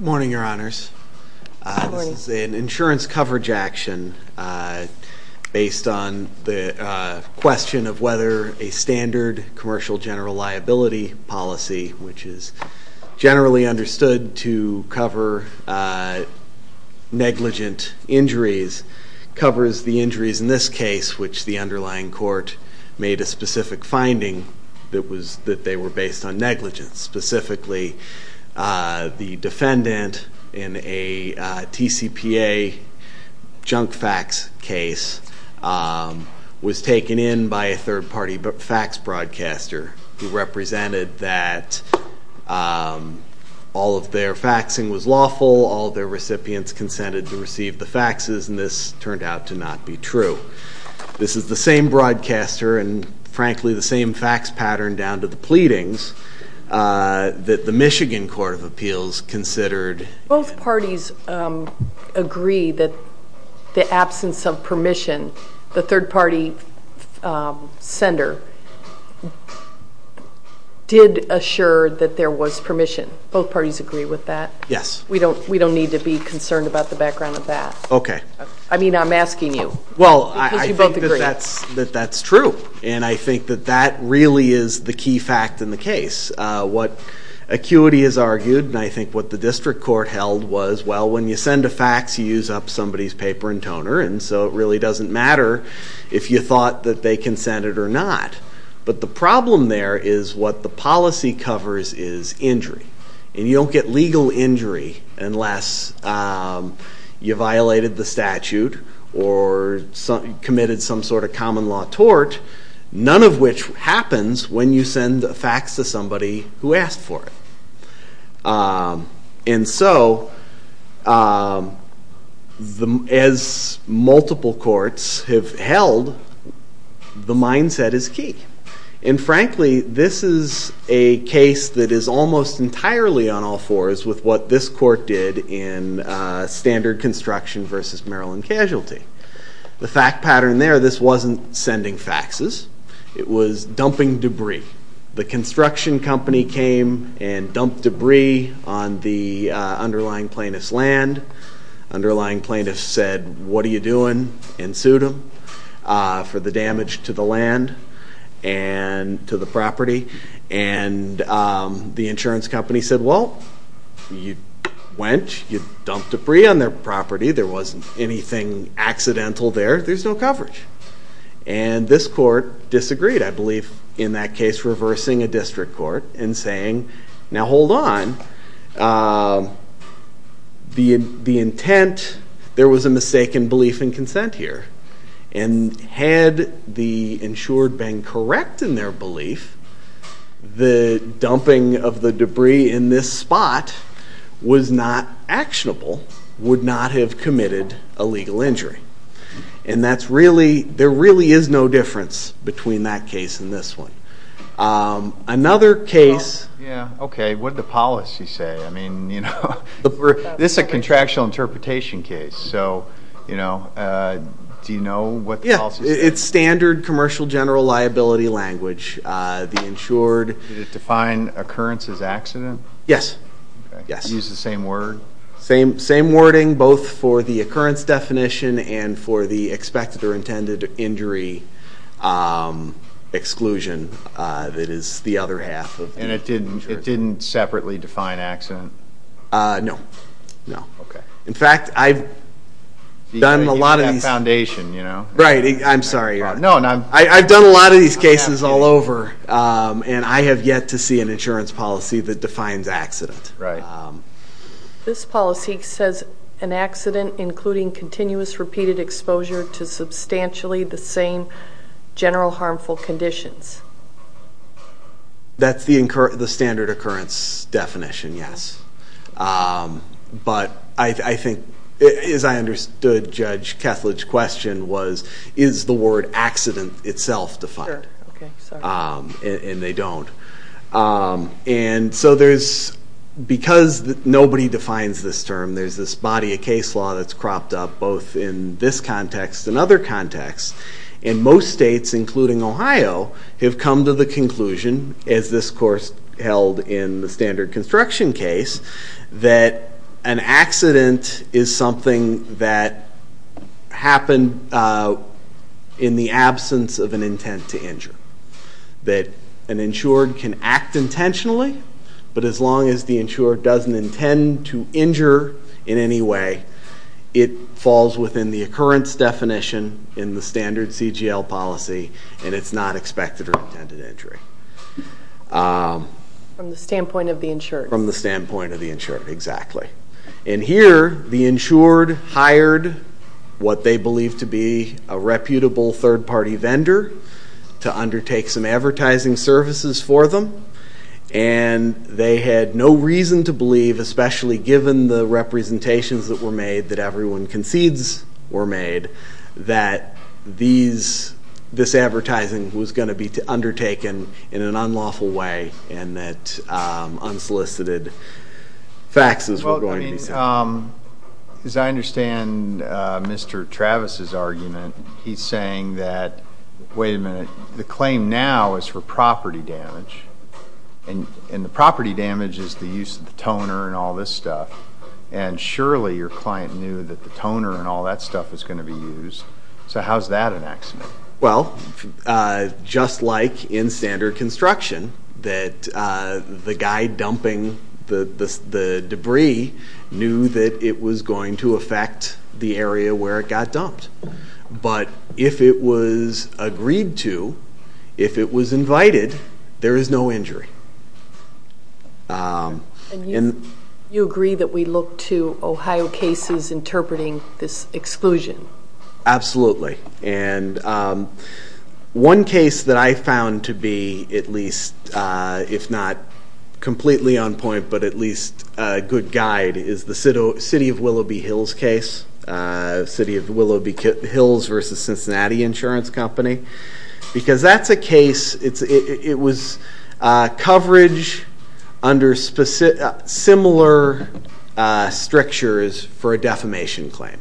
Morning Your Honors, this is an insurance coverage action based on the question of whether a standard commercial general liability policy, which is generally understood to cover negligent injuries, covers the injuries in this case, which the underlying court made a specific finding that they were based on negligence, specifically the defendant in a TCPA junk fax case, was taken in by a third party fax broadcaster who represented that all of their faxing was lawful, all of their recipients consented to receive the faxes and this turned out to not be true. This is the same broadcaster and frankly the same fax pattern down to the pleadings that the Michigan Court of Appeals considered. Both parties agree that the absence of permission, the third party sender, did assure that there was permission. Both parties agree with that? Yes. We don't need to be concerned about the background of that? Okay. I mean I'm asking you. Well, I think that that's true and I think that that really is the key fact in the case. What acuity has argued and I think what the district court held was, well, when you send a fax you use up somebody's paper and toner and so it really doesn't matter if you thought that they consented or not. But the problem there is what the policy covers is injury and you don't get legal injury unless you violated the statute or committed some sort of common law tort, none of which happens when you send a fax to somebody who asked for it. And so, as multiple courts have held, the mindset is key. And frankly, this is a case that is almost entirely on all fours with what this court did in standard construction versus Maryland casualty. The fact pattern there, this wasn't sending faxes. It was dumping debris. The construction company came and dumped debris on the underlying plaintiff's land. Underlying plaintiff said, what are you doing? And sued them for the damage to the land and to the property. And the insurance company said, well, you went, you dumped debris on their property, there wasn't anything accidental there, there's no coverage. And this court disagreed, I believe, in that case, reversing a district court and saying, now hold on, the intent, there was a mistaken belief in consent here. And had the insured been correct in their belief, the dumping of the debris in this spot was not actionable, would not have committed a legal injury. And that's really, there really is no difference between that case and this one. Another case. Yeah, okay, what did the policy say? I mean, you know, this is a contractual interpretation case, so, you know, do you know what the policy says? Yeah, it's standard commercial general liability language. The insured. Did it define occurrence as accident? Yes, yes. Use the same word? Same wording, both for the occurrence definition and for the expected or intended injury exclusion that is the other half of. And it didn't separately define accident? No, no. Okay. In fact, I've done a lot of these. The foundation, you know. Right, I'm sorry. No, no. I've done a lot of these cases all over, and I have yet to see an insurance policy that defines accident. Right. This policy says an accident including continuous repeated exposure to substantially the same general harmful conditions. That's the standard occurrence definition, yes. But I think, as I understood Judge Kethledge's question was, is the word accident itself defined? Sure, okay, sorry. And they don't. And so there's, because nobody defines this term, there's this body of case law that's cropped up both in this context and other contexts. And most states, including Ohio, have come to the conclusion, as this course held in the standard construction case, that an accident is something that happened in the absence of an intent to injure. That an insured can act intentionally, but as long as the insured doesn't intend to injure in any way, it falls within the occurrence definition in the standard CGL policy, and it's not expected or intended injury. From the standpoint of the insured. From the standpoint of the insured, exactly. And here, the insured hired what they believed to be a reputable third-party vendor to undertake some advertising services for them. And they had no reason to believe, especially given the representations that were made that everyone concedes were made, that this advertising was going to be undertaken in an unlawful way. And that unsolicited faxes were going to be taken. As I understand Mr. Travis's argument, he's saying that, wait a minute, the claim now is for property damage, and the property damage is the use of the toner and all this stuff. And surely your client knew that the toner and all that stuff was going to be used. So how's that an accident? Well, just like in standard construction, that the guy dumping the debris knew that it was going to affect the area where it got dumped. But if it was agreed to, if it was invited, there is no injury. And you agree that we look to Ohio cases interpreting this exclusion? Absolutely. And one case that I found to be at least, if not completely on point, but at least a good guide, is the City of Willoughby Hills case. City of Willoughby Hills versus Cincinnati Insurance Company. Because that's a case, it was coverage under similar strictures for a defamation claim.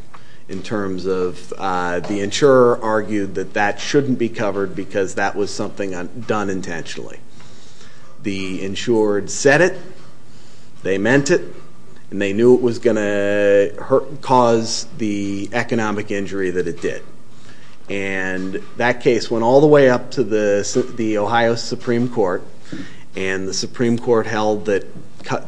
In terms of the insurer argued that that shouldn't be covered because that was something done intentionally. The insured said it, they meant it, and they knew it was going to cause the economic injury that it did. And that case went all the way up to the Ohio Supreme Court. And the Supreme Court held that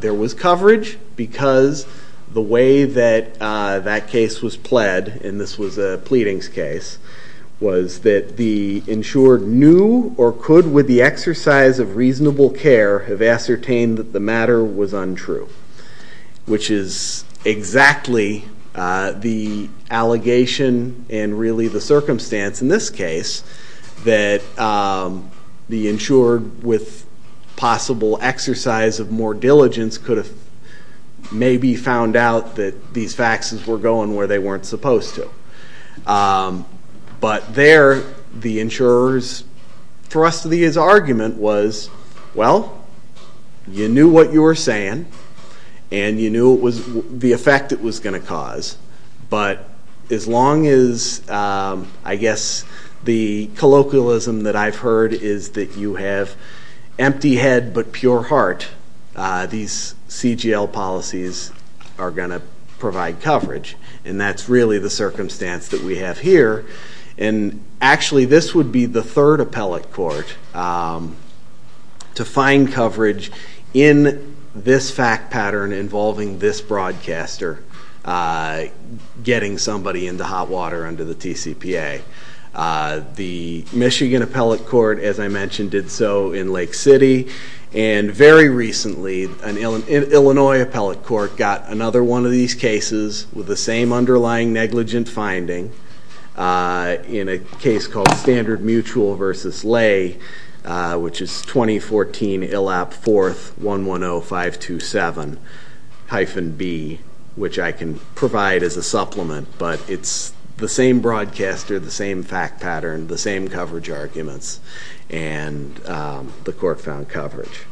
there was coverage because the way that that case was pled, and this was a pleadings case, was that the insured knew or could with the exercise of reasonable care have ascertained that the matter was untrue. Which is exactly the allegation and really the circumstance in this case, that the insured with possible exercise of more diligence could have maybe found out that these faxes were going where they weren't supposed to. But there, the insurer's thrust of his argument was, well, you knew what you were saying, and you knew the effect it was going to cause. But as long as, I guess, the colloquialism that I've heard is that you have empty head but pure heart. These CGL policies are going to provide coverage, and that's really the circumstance that we have here. And actually, this would be the third appellate court to find coverage in this fact pattern involving this broadcaster getting somebody into hot water under the TCPA, the Michigan appellate court, as I mentioned, did so in Lake City. And very recently, an Illinois appellate court got another one of these cases with the same underlying negligent finding in a case called Standard Mutual versus Lay, which is 2014 ILAP 4th 110527-B, which I can provide as a supplement, but it's the same broadcaster, the same fact pattern, the same coverage arguments. And the court found coverage.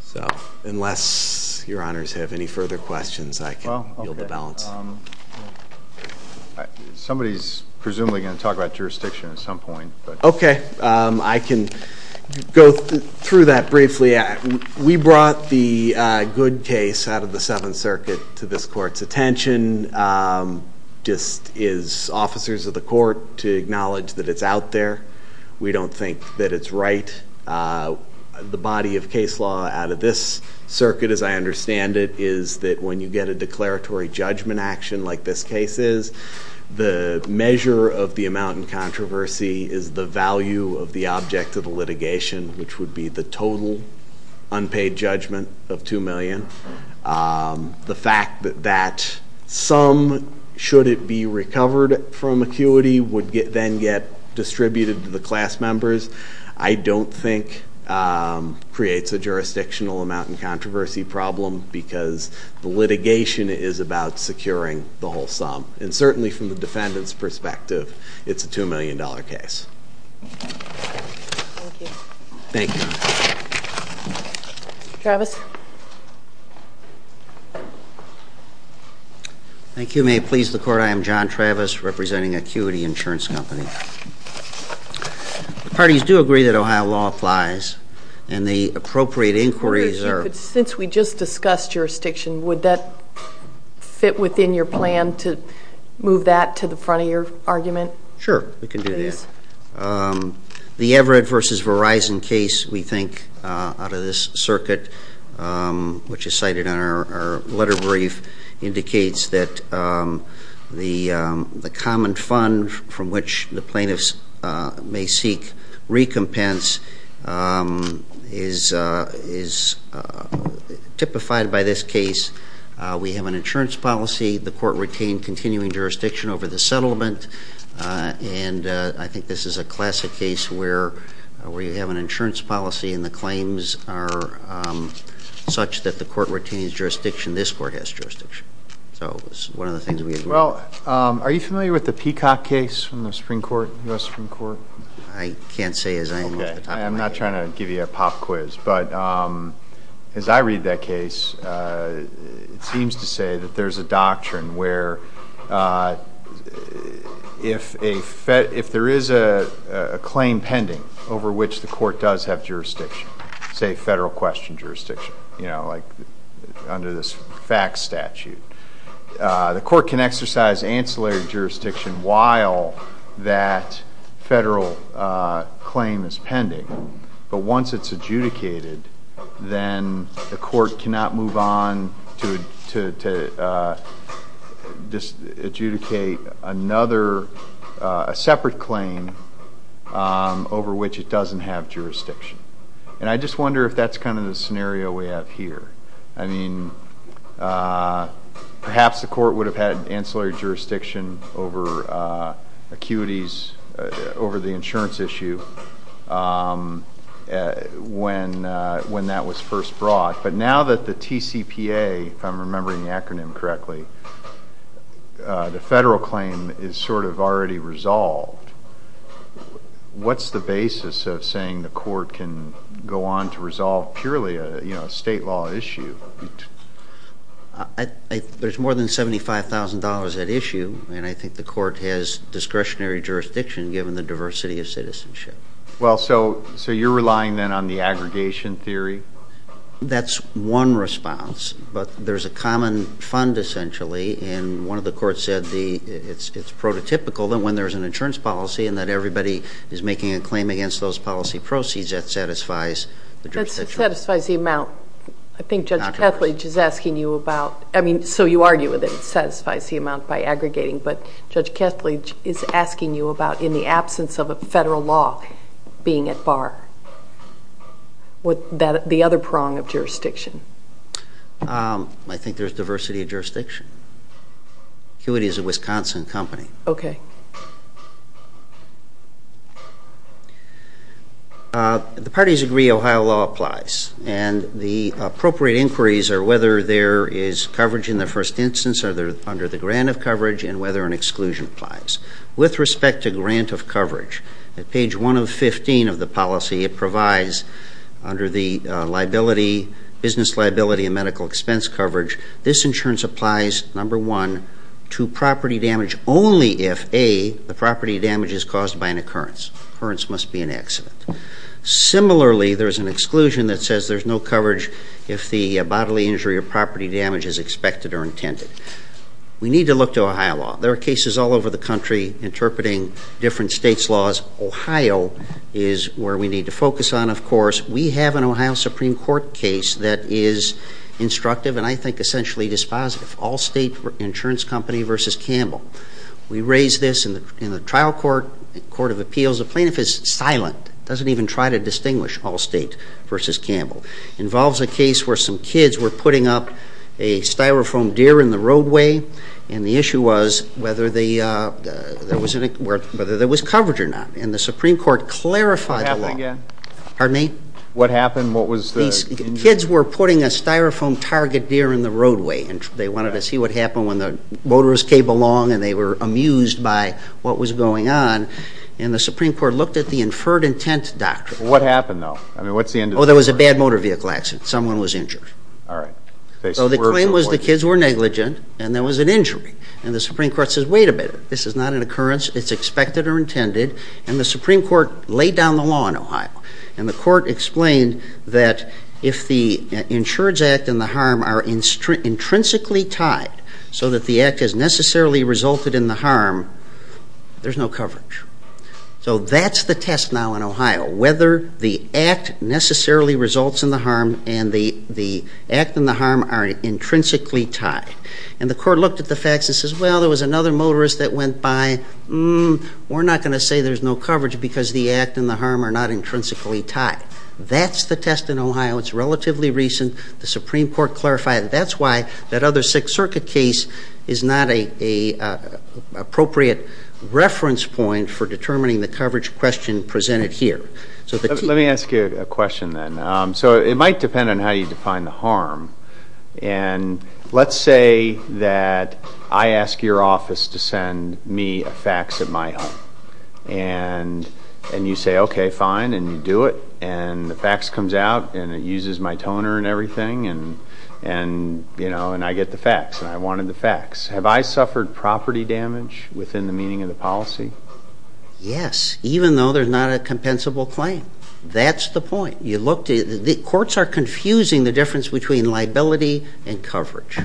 So, unless your honors have any further questions, I can yield the balance. Somebody's presumably going to talk about jurisdiction at some point. Okay, I can go through that briefly. We brought the Good case out of the Seventh Circuit to this court's attention. Just is officers of the court to acknowledge that it's out there. We don't think that it's right. The body of case law out of this circuit, as I understand it, is that when you get a declaratory judgment action like this case is, the measure of the amount in controversy is the value of the object of the litigation, which would be the total unpaid judgment of 2 million. The fact that that sum, should it be recovered from acuity, would then get distributed to the class members, I don't think creates a jurisdictional amount in controversy problem, because the litigation is about securing the whole sum. And certainly from the defendant's perspective, it's a $2 million case. Thank you. Travis? Thank you, may it please the court. I am John Travis, representing Acuity Insurance Company. Parties do agree that Ohio law applies, and the appropriate inquiries are- Since we just discussed jurisdiction, would that fit within your plan to move that to the front of your argument? Sure, we can do that. The Everett versus Verizon case, we think, out of this circuit, which is cited in our letter brief, indicates that the common fund from which the plaintiffs may seek recompense is typified by this case. We have an insurance policy. The court retained continuing jurisdiction over the settlement, and I think this is a classic case where you have an insurance policy and the claims are such that the court retains jurisdiction, this court has jurisdiction. So it's one of the things we agree on. Well, are you familiar with the Peacock case from the Supreme Court, US Supreme Court? I can't say as I am at the top of my head. I'm not trying to give you a pop quiz, but as I read that case, it seems to say that there's a doctrine where if there is a claim pending over which the court does have jurisdiction, say federal question jurisdiction, like under this FACS statute, the court can exercise ancillary jurisdiction while that federal claim is pending. But once it's adjudicated, then the court cannot move on to adjudicate another separate claim over which it doesn't have jurisdiction. And I just wonder if that's kind of the scenario we have here. I mean, perhaps the court would have had ancillary jurisdiction over acuities, over the insurance issue when that was first brought. But now that the TCPA, if I'm remembering the acronym correctly, the federal claim is sort of already resolved, what's the basis of saying the court can go on to resolve purely a state law issue? There's more than $75,000 at issue, and I think the court has discretionary jurisdiction given the diversity of citizenship. Well, so you're relying then on the aggregation theory? That's one response, but there's a common fund essentially. And one of the courts said it's prototypical that when there's an insurance policy and that everybody is making a claim against those policy proceeds, that satisfies the jurisdiction. That satisfies the amount. I think Judge Kethledge is asking you about, I mean, so you argue that it satisfies the amount by aggregating. But Judge Kethledge is asking you about, in the absence of a federal law, being at bar. With the other prong of jurisdiction. I think there's diversity of jurisdiction. Acuity is a Wisconsin company. Okay. The parties agree Ohio law applies. And the appropriate inquiries are whether there is coverage in the first instance, are they under the grant of coverage, and whether an exclusion applies. With respect to grant of coverage, at page 115 of the policy, it provides under the business liability and medical expense coverage. This insurance applies, number one, to property damage only if A, the property damage is caused by an occurrence, occurrence must be an accident. Similarly, there's an exclusion that says there's no coverage if the bodily injury or property damage is expected or intended. We need to look to Ohio law. There are cases all over the country interpreting different state's laws. Ohio is where we need to focus on, of course. We have an Ohio Supreme Court case that is instructive, and I think essentially dispositive. All state insurance company versus Campbell. We raised this in the trial court, court of appeals. The plaintiff is silent, doesn't even try to distinguish all state versus Campbell. Involves a case where some kids were putting up a styrofoam deer in the roadway. And the issue was whether there was coverage or not. And the Supreme Court clarified the law. What happened again? Pardon me? What happened? What was the injury? Kids were putting a styrofoam target deer in the roadway, and they wanted to see what happened when the motorists came along and they were amused by what was going on. And the Supreme Court looked at the inferred intent doctrine. What happened though? I mean, what's the end of story? There was a bad motor vehicle accident. Someone was injured. All right. So the claim was the kids were negligent, and there was an injury. And the Supreme Court says, wait a minute, this is not an occurrence, it's expected or intended. And the Supreme Court laid down the law in Ohio. And the court explained that if the insurance act and the harm are intrinsically tied, so that the act has necessarily resulted in the harm, there's no coverage. So that's the test now in Ohio, whether the act necessarily results in the harm and the act and the harm are intrinsically tied. And the court looked at the facts and says, well, there was another motorist that went by. We're not going to say there's no coverage because the act and the harm are not intrinsically tied. That's the test in Ohio. It's relatively recent. The Supreme Court clarified that that's why that other Sixth Circuit case is not an appropriate reference point for determining the coverage question presented here. So the key- Let me ask you a question then. So it might depend on how you define the harm. And let's say that I ask your office to send me a fax at my home. And you say, okay, fine, and you do it. And the fax comes out, and it uses my toner and everything, and I get the fax, and I wanted the fax. Have I suffered property damage within the meaning of the policy? Yes, even though there's not a compensable claim. That's the point. The courts are confusing the difference between liability and coverage.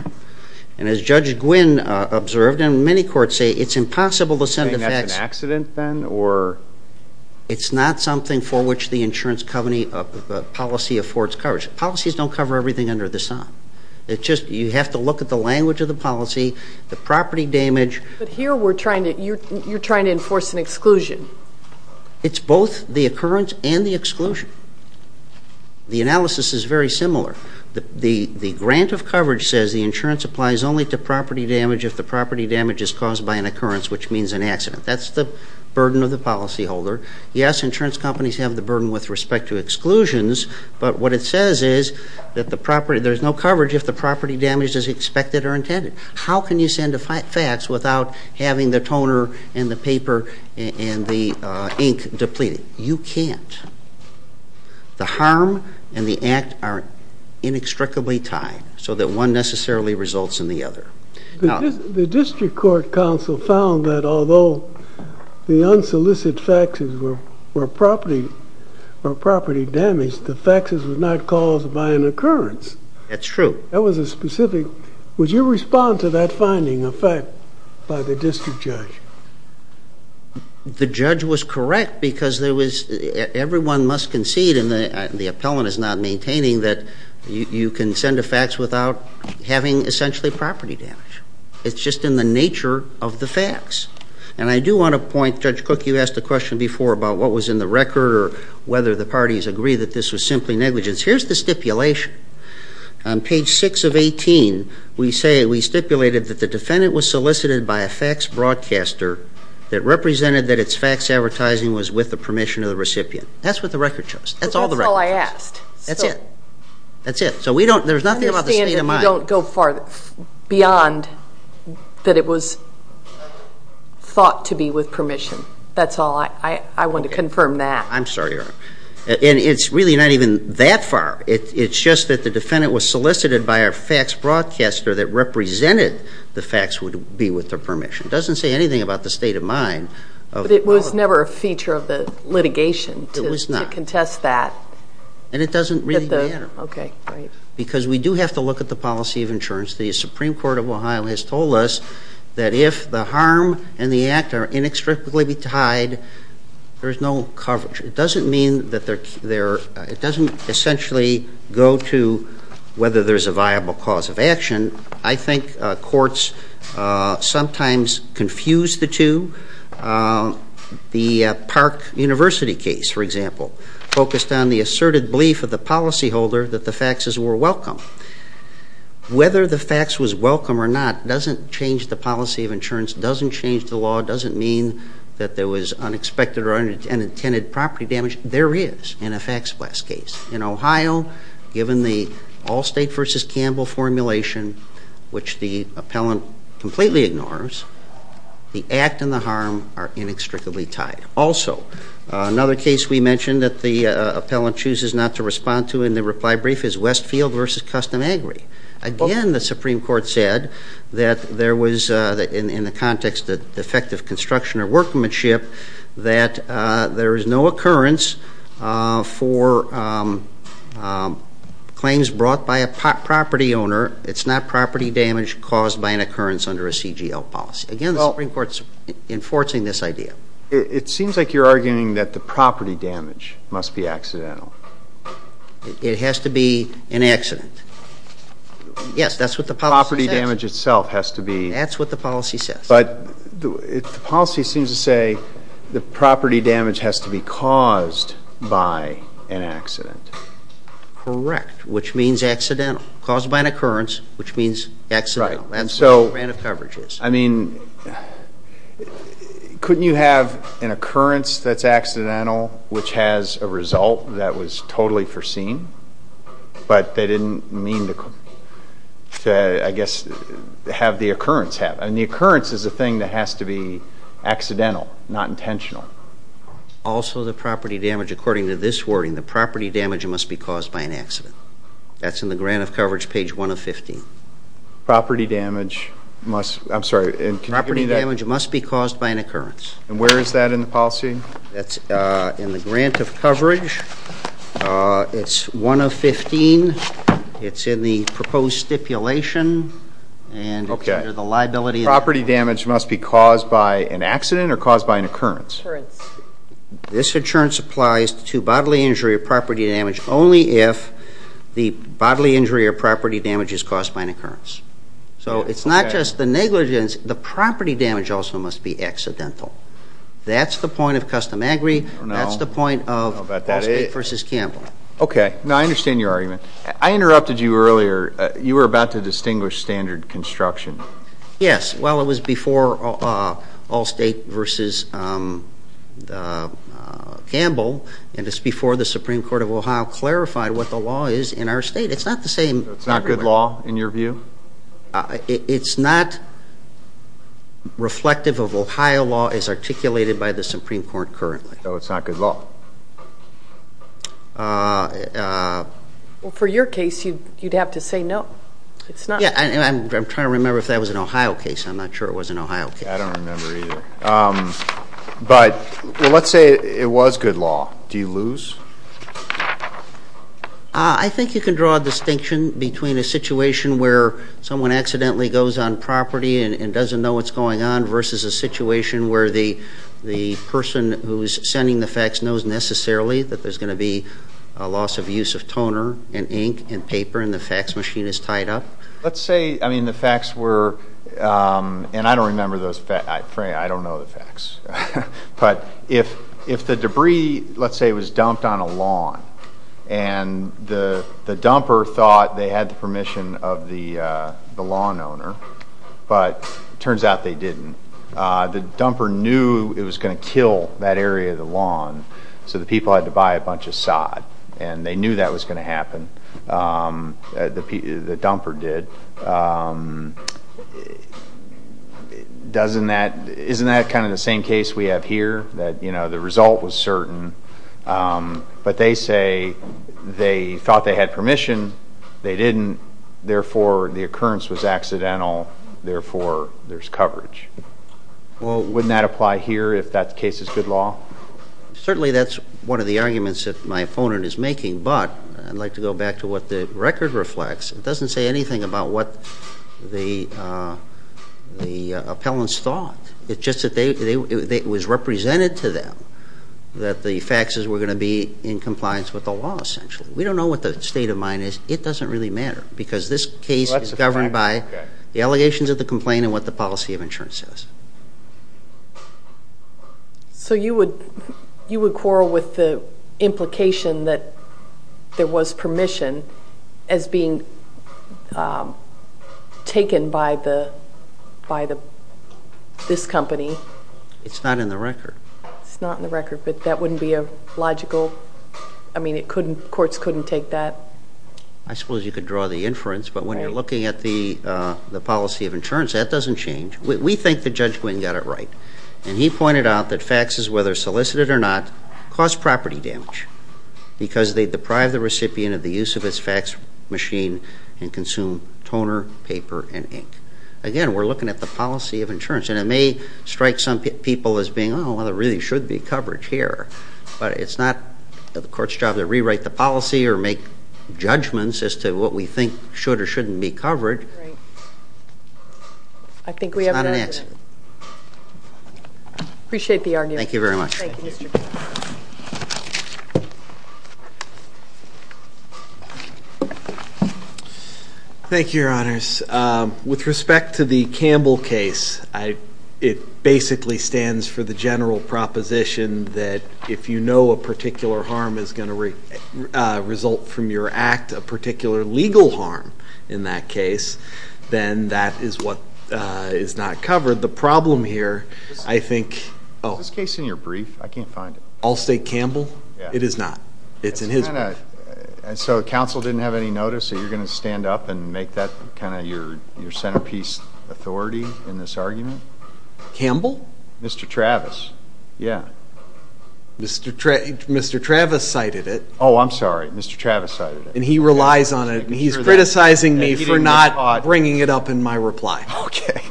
And as Judge Gwynne observed, and many courts say, it's impossible to send a fax- You're saying that's an accident then, or? It's not something for which the insurance policy affords coverage. Policies don't cover everything under the sun. It's just you have to look at the language of the policy, the property damage. But here you're trying to enforce an exclusion. It's both the occurrence and the exclusion. The analysis is very similar. The grant of coverage says the insurance applies only to property damage if the property damage is caused by an occurrence, which means an accident. That's the burden of the policyholder. Yes, insurance companies have the burden with respect to exclusions. But what it says is that there's no coverage if the property damage is expected or intended. How can you send a fax without having the toner and the paper and the ink depleted? You can't. The harm and the act are inextricably tied so that one necessarily results in the other. The district court counsel found that although the unsolicited faxes were property damage, the faxes were not caused by an occurrence. That's true. That was a specific- Would you respond to that finding of fact by the district judge? The judge was correct because there was- Everyone must concede, and the appellant is not maintaining, that you can send a fax without having essentially property damage. It's just in the nature of the fax. And I do want to point- Judge Cook, you asked a question before about what was in the record or whether the parties agree that this was simply negligence. Here's the stipulation. On page 6 of 18, we stipulated that the defendant was solicited by a fax broadcaster that represented that its fax advertising was with the permission of the recipient. That's what the record shows. That's all the record shows. That's all I asked. That's it. That's it. So there's nothing about the state of mind. I understand that you don't go beyond that it was thought to be with permission. That's all. I want to confirm that. I'm sorry, Your Honor. And it's really not even that far. It's just that the defendant was solicited by a fax broadcaster that represented the fax would be with their permission. It doesn't say anything about the state of mind. But it was never a feature of the litigation to contest that. It was not. And it doesn't really matter. Okay, great. Because we do have to look at the policy of insurance. The Supreme Court of Ohio has told us that if the harm and the act are inextricably tied, there is no coverage. It doesn't mean that they're, it doesn't essentially go to whether there's a viable cause of action. I think courts sometimes confuse the two. The Park University case, for example, focused on the asserted belief of the policyholder that the faxes were welcome. Whether the fax was welcome or not doesn't change the policy of insurance, doesn't change the law, doesn't mean that there was unexpected or unintended property damage. There is, in a fax blast case. In Ohio, given the Allstate versus Campbell formulation, which the appellant completely ignores, the act and the harm are inextricably tied. Also, another case we mentioned that the appellant chooses not to respond to in the reply brief is Westfield versus Custom Agri. Again, the Supreme Court said that there was, in the context of defective construction or workmanship, that there is no occurrence for claims brought by a property owner. It's not property damage caused by an occurrence under a CGL policy. Again, the Supreme Court's enforcing this idea. It seems like you're arguing that the property damage must be accidental. It has to be an accident. Yes, that's what the policy says. Property damage itself has to be. That's what the policy says. But the policy seems to say the property damage has to be caused by an accident. Correct, which means accidental. Caused by an occurrence, which means accidental. That's what the grant of coverage is. I mean, couldn't you have an occurrence that's accidental, which has a result that was totally foreseen? But they didn't mean to, I guess, have the occurrence happen. And the occurrence is a thing that has to be accidental, not intentional. Also, the property damage, according to this wording, the property damage must be caused by an accident. That's in the grant of coverage, page 1 of 15. Property damage must, I'm sorry, and can you repeat that? Property damage must be caused by an occurrence. And where is that in the policy? That's in the grant of coverage, it's 1 of 15, it's in the proposed stipulation, and it's under the liability of- Property damage must be caused by an accident or caused by an occurrence? Occurrence. This occurrence applies to bodily injury or property damage only if the bodily injury or property damage is caused by an occurrence. So it's not just the negligence, the property damage also must be accidental. That's the point of custom agri, that's the point of Allstate versus Campbell. Okay, now I understand your argument. I interrupted you earlier, you were about to distinguish standard construction. Yes, well it was before Allstate versus Campbell, and it's before the Supreme Court of Ohio clarified what the law is in our state. It's not the same- So it's not good law, in your view? It's not reflective of Ohio law as articulated by the Supreme Court currently. So it's not good law? Well, for your case, you'd have to say no, it's not. Yeah, and I'm trying to remember if that was an Ohio case, I'm not sure it was an Ohio case. I don't remember either, but let's say it was good law, do you lose? I think you can draw a distinction between a situation where someone accidentally goes on property and doesn't know what's going on versus a situation where the person who's sending the fax knows necessarily that there's going to be a loss of use of toner and ink and paper and the fax machine is tied up. Let's say, I mean, the fax were, and I don't remember those fax, I don't know the fax. But if the debris, let's say, was dumped on a lawn, and the dumper thought they had the permission of the lawn owner, but it turns out they didn't. The dumper knew it was going to kill that area of the lawn, so the people had to buy a bunch of sod, and they knew that was going to happen. The dumper did. Doesn't that, isn't that kind of the same case we have here? That the result was certain, but they say they thought they had permission, they didn't, therefore the occurrence was accidental, therefore there's coverage. Well, wouldn't that apply here if that case is good law? Certainly that's one of the arguments that my opponent is making, but I'd like to go back to what the record reflects. It doesn't say anything about what the appellants thought. It's just that it was represented to them that the faxes were going to be in compliance with the law, essentially. We don't know what the state of mind is. It doesn't really matter, because this case is governed by the allegations of the complaint and what the policy of insurance says. So you would quarrel with the implication that there was permission as being taken by this company? It's not in the record. It's not in the record, but that wouldn't be a logical, I mean, courts couldn't take that? I suppose you could draw the inference, but when you're looking at the policy of insurance, that doesn't change. We think the judge went and got it right, and he pointed out that faxes, whether solicited or not, cause property damage because they deprive the recipient of the use of its fax machine and consume toner, paper, and ink. Again, we're looking at the policy of insurance, and it may strike some people as being, well, there really should be coverage here. But it's not the court's job to rewrite the policy or make judgments as to what we think should or shouldn't be covered. Right. I think we have- It's not in it. Appreciate the argument. Thank you very much. Thank you, Mr. Campbell. Thank you, your honors. With respect to the Campbell case, it basically stands for the general proposition that if you know a particular harm is going to result from your act, a particular legal harm in that case, then that is what is not covered. The problem here, I think- Is this case in your brief? I can't find it. All State Campbell? It is not. It's in his brief. So council didn't have any notice, so you're going to stand up and make that kind of your centerpiece authority in this argument? Campbell? Mr. Travis. Yeah. Mr. Travis cited it. I'm sorry. Mr. Travis cited it. And he relies on it. He's criticizing me for not bringing it up in my reply. Okay.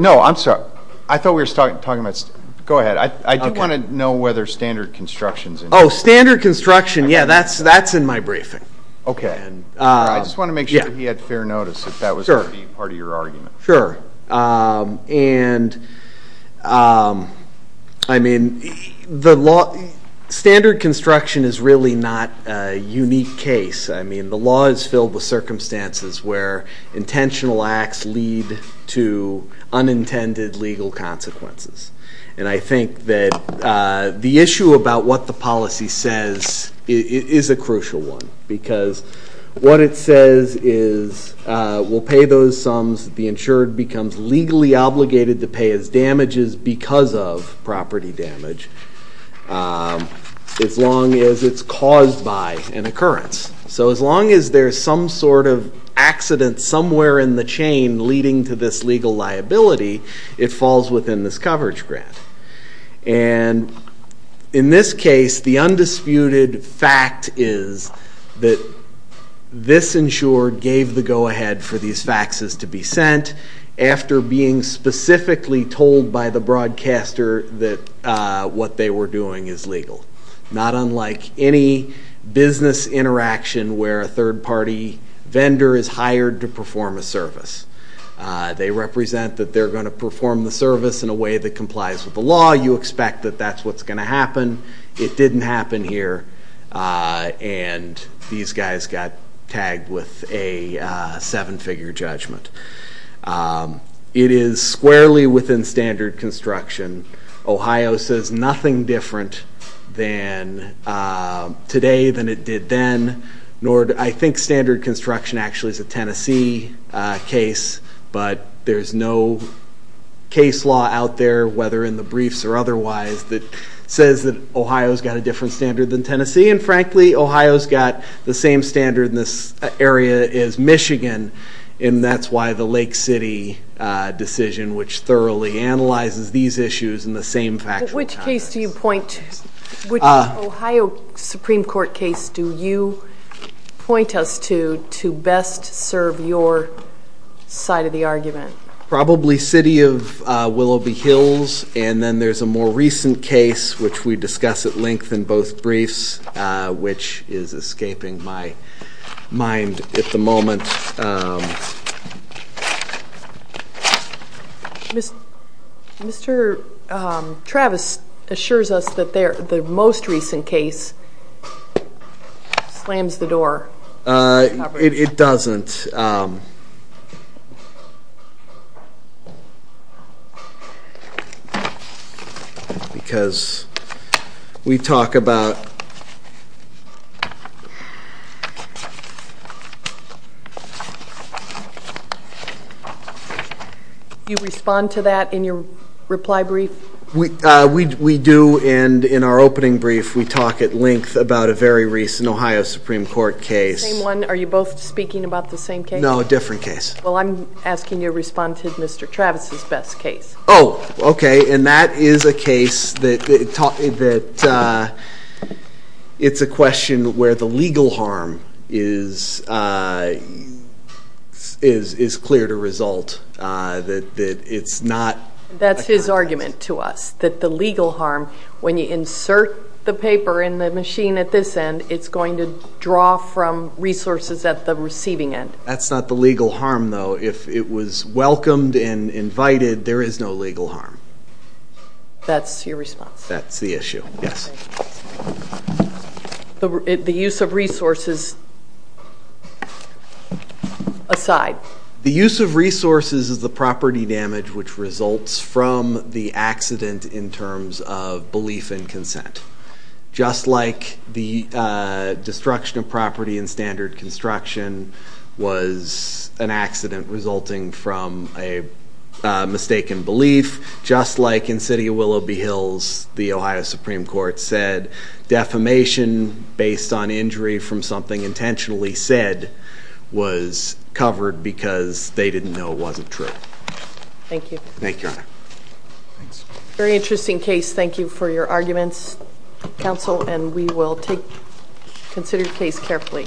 No, I'm sorry. I thought we were talking about- Go ahead. I do want to know whether standard construction's involved. Standard construction, yeah, that's in my briefing. Okay. I just want to make sure he had fair notice, if that was going to be part of your argument. Sure. And, I mean, standard construction is really not a unique case. I mean, the law is filled with circumstances where intentional acts lead to unintended legal consequences. And I think that the issue about what the policy says is a crucial one. Because what it says is, we'll pay those sums, the insured becomes legally obligated to pay his damages because of property damage, as long as it's caused by an occurrence. So as long as there's some sort of accident somewhere in the chain leading to this legal liability, it falls within this coverage grant. And in this case, the undisputed fact is that this insured gave the go ahead for these faxes to be sent after being specifically told by the broadcaster that what they were doing is legal. Not unlike any business interaction where a third party vendor is hired to perform a service. They represent that they're going to perform the service in a way that complies with the law. You expect that that's what's going to happen. It didn't happen here, and these guys got tagged with a seven figure judgment. It is squarely within standard construction. Ohio says nothing different than today than it did then. Nor do I think standard construction actually is a Tennessee case. But there's no case law out there, whether in the briefs or otherwise, that says that Ohio's got a different standard than Tennessee. And frankly, Ohio's got the same standard in this area as Michigan. And that's why the Lake City decision, which thoroughly analyzes these issues in the same factual time. Which case do you point, which Ohio Supreme Court case do you point us to, to best serve your side of the argument? Probably City of Willoughby Hills, and then there's a more recent case, which we discuss at length in both briefs, which is escaping my mind at the moment. Mr. Travis assures us that the most recent case slams the door. It doesn't. Because we talk about You respond to that in your reply brief? We do, and in our opening brief, we talk at length about a very recent Ohio Supreme Court case. Are you both speaking about the same case? No, a different case. Well, I'm asking you to respond to Mr. Travis's best case. Oh, okay, and that is a case that it's a question where the legal harm is clear to result. That it's not- That's his argument to us, that the legal harm, when you insert the paper in the machine at this end, it's going to draw from resources at the receiving end. That's not the legal harm, though. If it was welcomed and invited, there is no legal harm. That's your response? That's the issue, yes. The use of resources aside. The use of resources is the property damage which results from the accident in terms of belief and consent. Just like the destruction of property in standard construction was an accident resulting from a mistaken belief, just like in the city of Willoughby Hills, the Ohio Supreme Court said defamation based on injury from something intentionally said was covered because they didn't know it wasn't true. Thank you. Thank you, Your Honor. Very interesting case. Thank you for your arguments, counsel, and we will consider your case carefully.